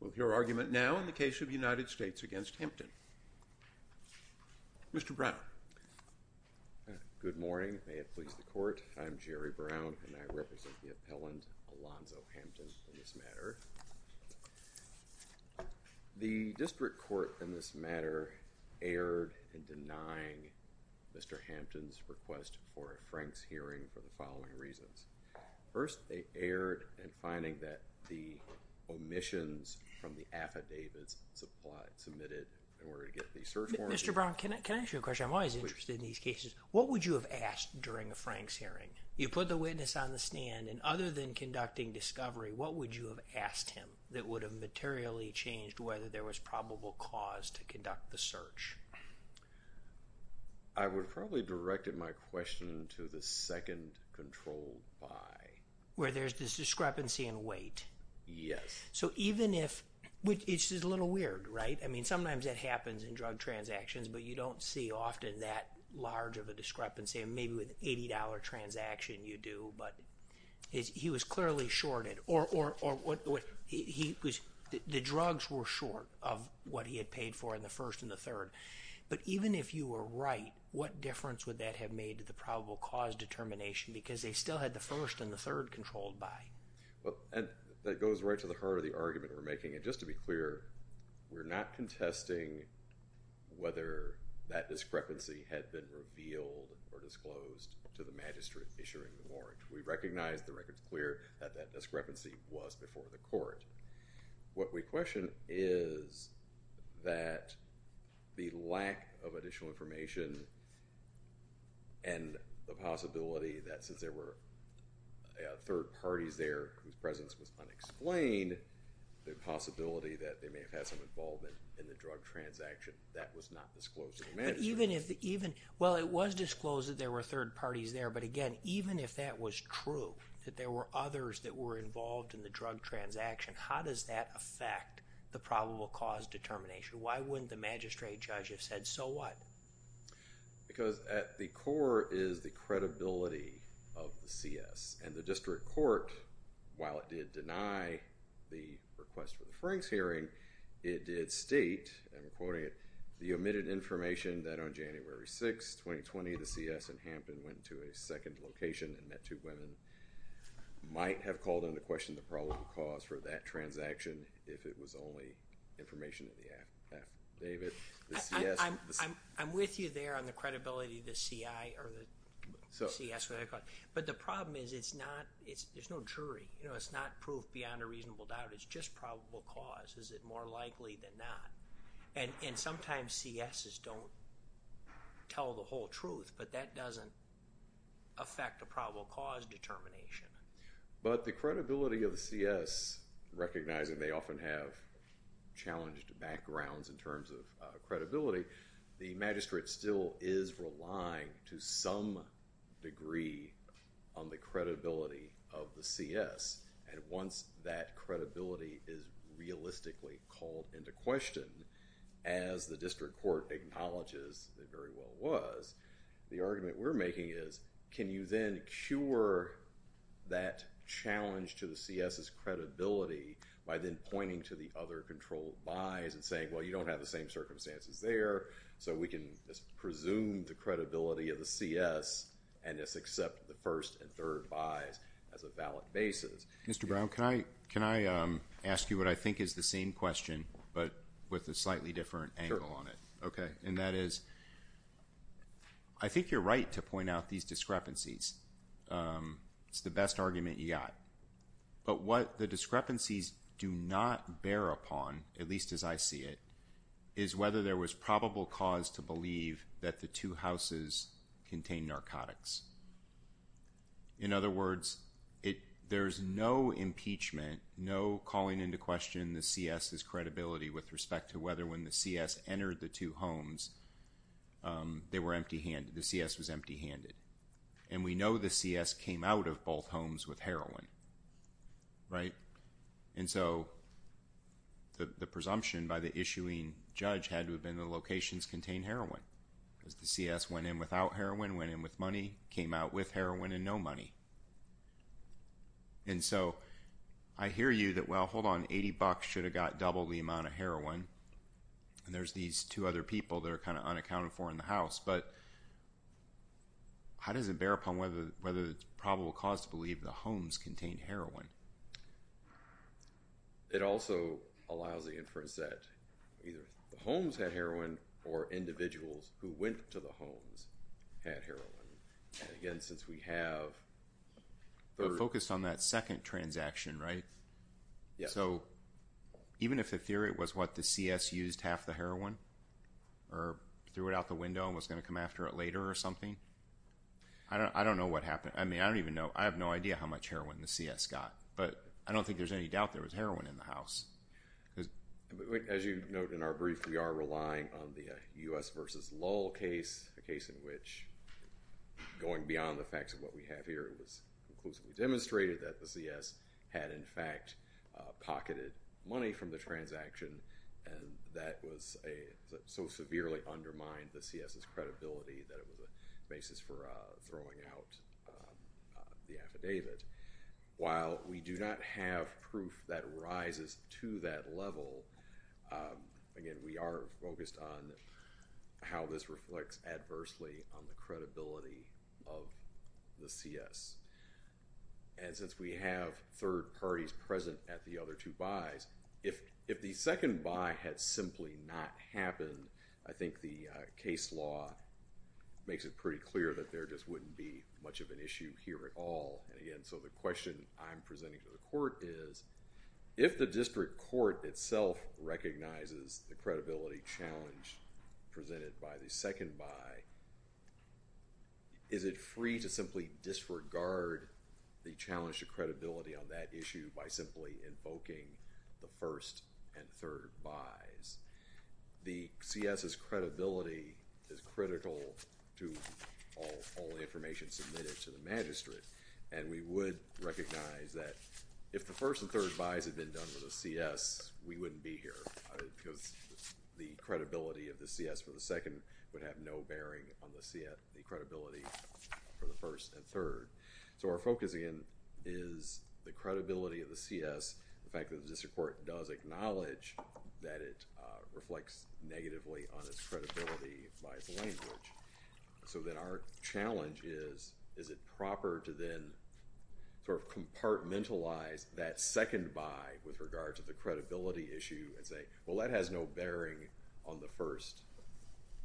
We'll hear argument now in the case of United States v. Hampton. Mr. Brown. Good morning. May it please the Court, I'm Jerry Brown, and I represent the appellant Alonzo Hampton in this matter. The district court in this matter erred in denying Mr. Hampton's request for a Franks hearing for the following reasons. First, they erred in finding that the omissions from the affidavits submitted in order to get the search warrant. Mr. Brown, can I ask you a question? I'm always interested in these cases. What would you have asked during a Franks hearing? You put the witness on the stand, and other than conducting discovery, what would you have asked him that would have materially changed whether there was probable cause to conduct the search? I would have probably directed my question to the second controlled buy. Where there's this discrepancy in weight? Yes. So even if, which is a little weird, right? I mean, sometimes that happens in drug transactions, but you don't see often that large of a discrepancy. Maybe with an $80 transaction you do, but he was clearly shorted. The drugs were short of what he had paid for in the first and the third. But even if you were right, what difference would that have made to the probable cause determination? Because they still had the first and the third controlled buy. Well, that goes right to the heart of the argument we're making. And just to be clear, we're not contesting whether that discrepancy had been revealed or disclosed to the magistrate issuing the warrant. We recognize the record's clear that that discrepancy was before the court. What we question is that the lack of additional information and the possibility that since there were third parties there whose presence was unexplained, the possibility that they may have had some involvement in the drug transaction, that was not disclosed to the magistrate. Well, it was disclosed that there were third parties there. But again, even if that was true, that there were others that were involved in the drug transaction, how does that affect the probable cause determination? Why wouldn't the magistrate judge have said, so what? Because at the core is the credibility of the CS. And the district court, while it did deny the request for the Franks hearing, it did state, and I'm quoting it, the omitted information that on January 6, 2020, the CS and Hampton went to a second location and met two women, might have called into question the probable cause for that transaction if it was only information in the affidavit. I'm with you there on the credibility of the CI or the CS. But the problem is it's not, there's no jury. It's not proof beyond a reasonable doubt. It's just probable cause. Is it more likely than not? And sometimes CSs don't tell the whole truth, but that doesn't affect the probable cause determination. But the credibility of the CS, recognizing they often have challenged backgrounds in terms of credibility, the magistrate still is relying to some degree on the credibility of the CS. And once that credibility is realistically called into question, as the district court acknowledges it very well was, the argument we're making is can you then cure that challenge to the CS's credibility by then pointing to the other controlled buys and saying, well, you don't have the same circumstances there, so we can presume the credibility of the CS and just accept the first and third buys as a valid basis. Mr. Brown, can I ask you what I think is the same question but with a slightly different angle on it? Sure. Okay. And that is I think you're right to point out these discrepancies. It's the best argument you got. But what the discrepancies do not bear upon, at least as I see it, is whether there was probable cause to believe that the two houses contained narcotics. In other words, there's no impeachment, no calling into question the CS's credibility with respect to whether when the CS entered the two homes they were empty handed, the CS was empty handed. And we know the CS came out of both homes with heroin, right? And so the presumption by the issuing judge had to have been the locations contained heroin. Because the CS went in without heroin, went in with money, came out with heroin and no money. And so I hear you that, well, hold on, 80 bucks should have got double the amount of heroin. And there's these two other people that are kind of unaccounted for in the house. But how does it bear upon whether it's probable cause to believe the homes contained heroin? It also allows the inference that either the homes had heroin or individuals who went to the homes had heroin. And again, since we have the- We're focused on that second transaction, right? Yes. So even if the theory was what the CS used half the heroin or threw it out the window and was going to come after it later or something, I don't know what happened. I mean, I don't even know. I have no idea how much heroin the CS got. But I don't think there's any doubt there was heroin in the house. As you note in our brief, we are relying on the U.S. versus Lowell case, a case in which going beyond the facts of what we have here, it was conclusively demonstrated that the CS had, in fact, pocketed money from the transaction. And that so severely undermined the CS's credibility that it was a basis for throwing out the affidavit. While we do not have proof that rises to that level, again, we are focused on how this reflects adversely on the credibility of the CS. And since we have third parties present at the other two buys, if the second buy had simply not happened, I think the case law makes it pretty clear that there just wouldn't be much of an issue here at all. And again, so the question I'm presenting to the court is, if the district court itself recognizes the credibility challenge presented by the second buy, is it free to simply disregard the challenge to credibility on that issue by simply invoking the first and third buys? The CS's credibility is critical to all the information submitted to the magistrate. And we would recognize that if the first and third buys had been done with a CS, we wouldn't be here because the credibility of the CS for the second would have no bearing on the credibility for the first and third. So our focus, again, is the credibility of the CS. In fact, the district court does acknowledge that it reflects negatively on its credibility by its language. So then our challenge is, is it proper to then compartmentalize that second buy with regard to the credibility issue and say, well, that has no bearing on the first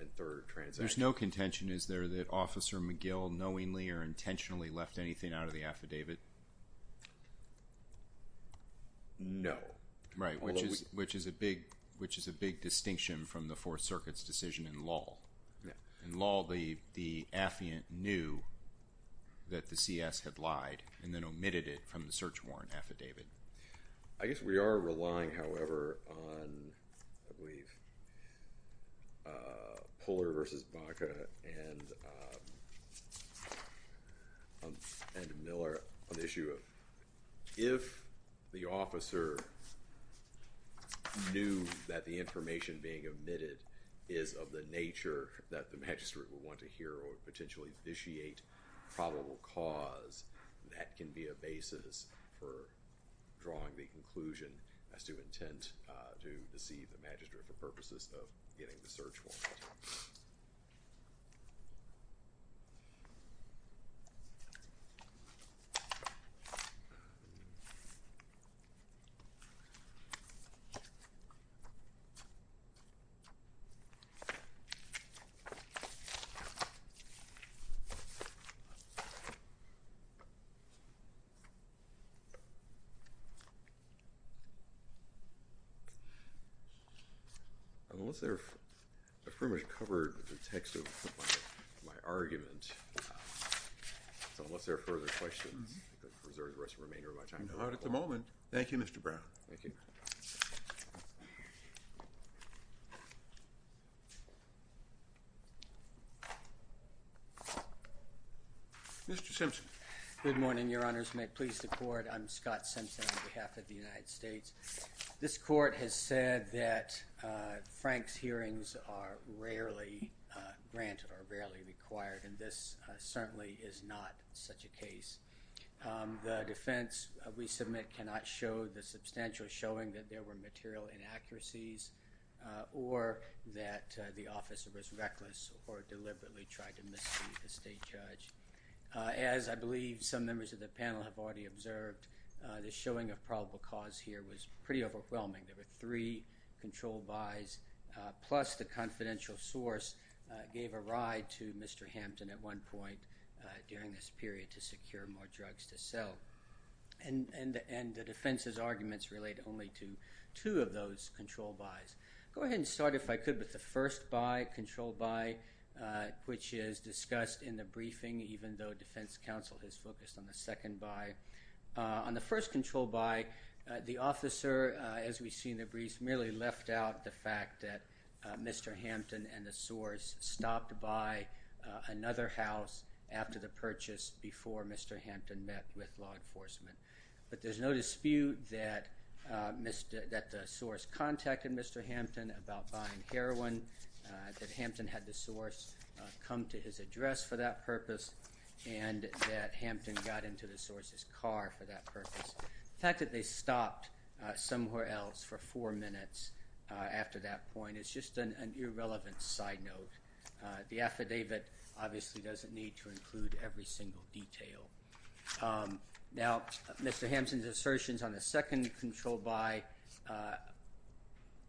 and third transactions. There's no contention, is there, that Officer McGill knowingly or intentionally left anything out of the affidavit? No. Right, which is a big distinction from the Fourth Circuit's decision in Lull. In Lull, the affiant knew that the CS had lied and then omitted it from the search warrant affidavit. I guess we are relying, however, on, I believe, Puller versus Baca and Miller on the issue of, if the officer knew that the information being omitted is of the nature that the magistrate would want to hear or potentially vitiate probable cause, that can be a basis for drawing the conclusion as to intent to deceive the magistrate for purposes of getting the search warrant. Unless there are, I've pretty much covered the text of my argument. So unless there are further questions, I'm going to preserve the rest of the remainder of my time. Not at the moment. Thank you, Mr. Brown. Mr. Simpson. Good morning, Your Honors. May it please the Court, I'm Scott Simpson on behalf of the United States. This Court has said that Frank's hearings are rarely granted or rarely required, and this certainly is not such a case. The defense we submit cannot show the substantial showing that there were material inaccuracies or that the officer was reckless or deliberately tried to mislead the state judge. As I believe some members of the panel have already observed, the showing of probable cause here was pretty overwhelming. There were three control buys, plus the confidential source gave a ride to Mr. Hampton at one point during this period to secure more drugs to sell. And the defense's arguments relate only to two of those control buys. Go ahead and start, if I could, with the first buy, control buy, which is discussed in the briefing, even though defense counsel has focused on the second buy. On the first control buy, the officer, as we see in the brief, merely left out the fact that Mr. Hampton and the source stopped by another house after the purchase before Mr. Hampton met with law enforcement. But there's no dispute that the source contacted Mr. Hampton about buying heroin, that Hampton had the source come to his address for that purpose, and that Hampton got into the source's car for that purpose. The fact that they stopped somewhere else for four minutes after that point is just an irrelevant side note. The affidavit obviously doesn't need to include every single detail. Now, Mr. Hampton's assertions on the second control buy,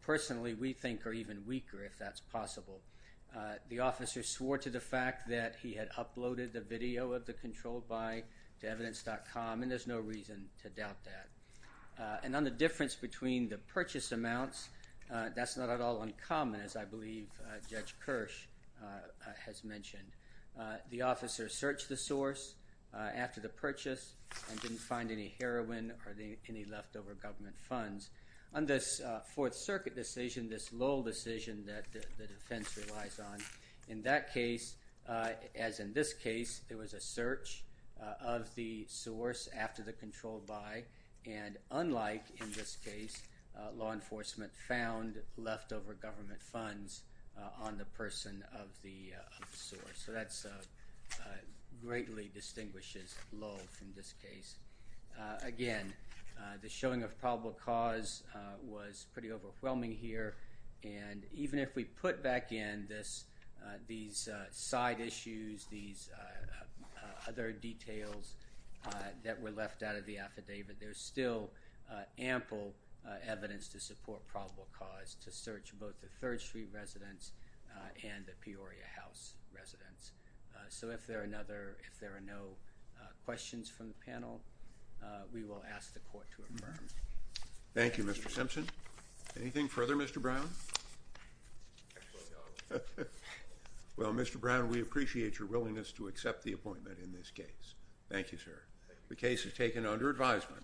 personally, we think are even weaker, if that's possible. The officer swore to the fact that he had uploaded the video of the control buy to evidence.com, and there's no reason to doubt that. And on the difference between the purchase amounts, that's not at all uncommon, as I believe Judge Kirsch has mentioned. The officer searched the source after the purchase and didn't find any heroin or any leftover government funds. On this Fourth Circuit decision, this Lowell decision that the defense relies on, in that case, as in this case, there was a search of the source after the control buy, and unlike in this case, law enforcement found leftover government funds on the person of the source. So that greatly distinguishes Lowell from this case. Again, the showing of probable cause was pretty overwhelming here, and even if we put back in these side issues, these other details that were left out of the affidavit, there's still ample evidence to support probable cause to search both the Third Street residents and the Peoria House residents. So if there are no questions from the panel, we will ask the court to affirm. Thank you, Mr. Simpson. Anything further, Mr. Brown? Well, Mr. Brown, we appreciate your willingness to accept the appointment in this case. Thank you, sir. The case is taken under advisement.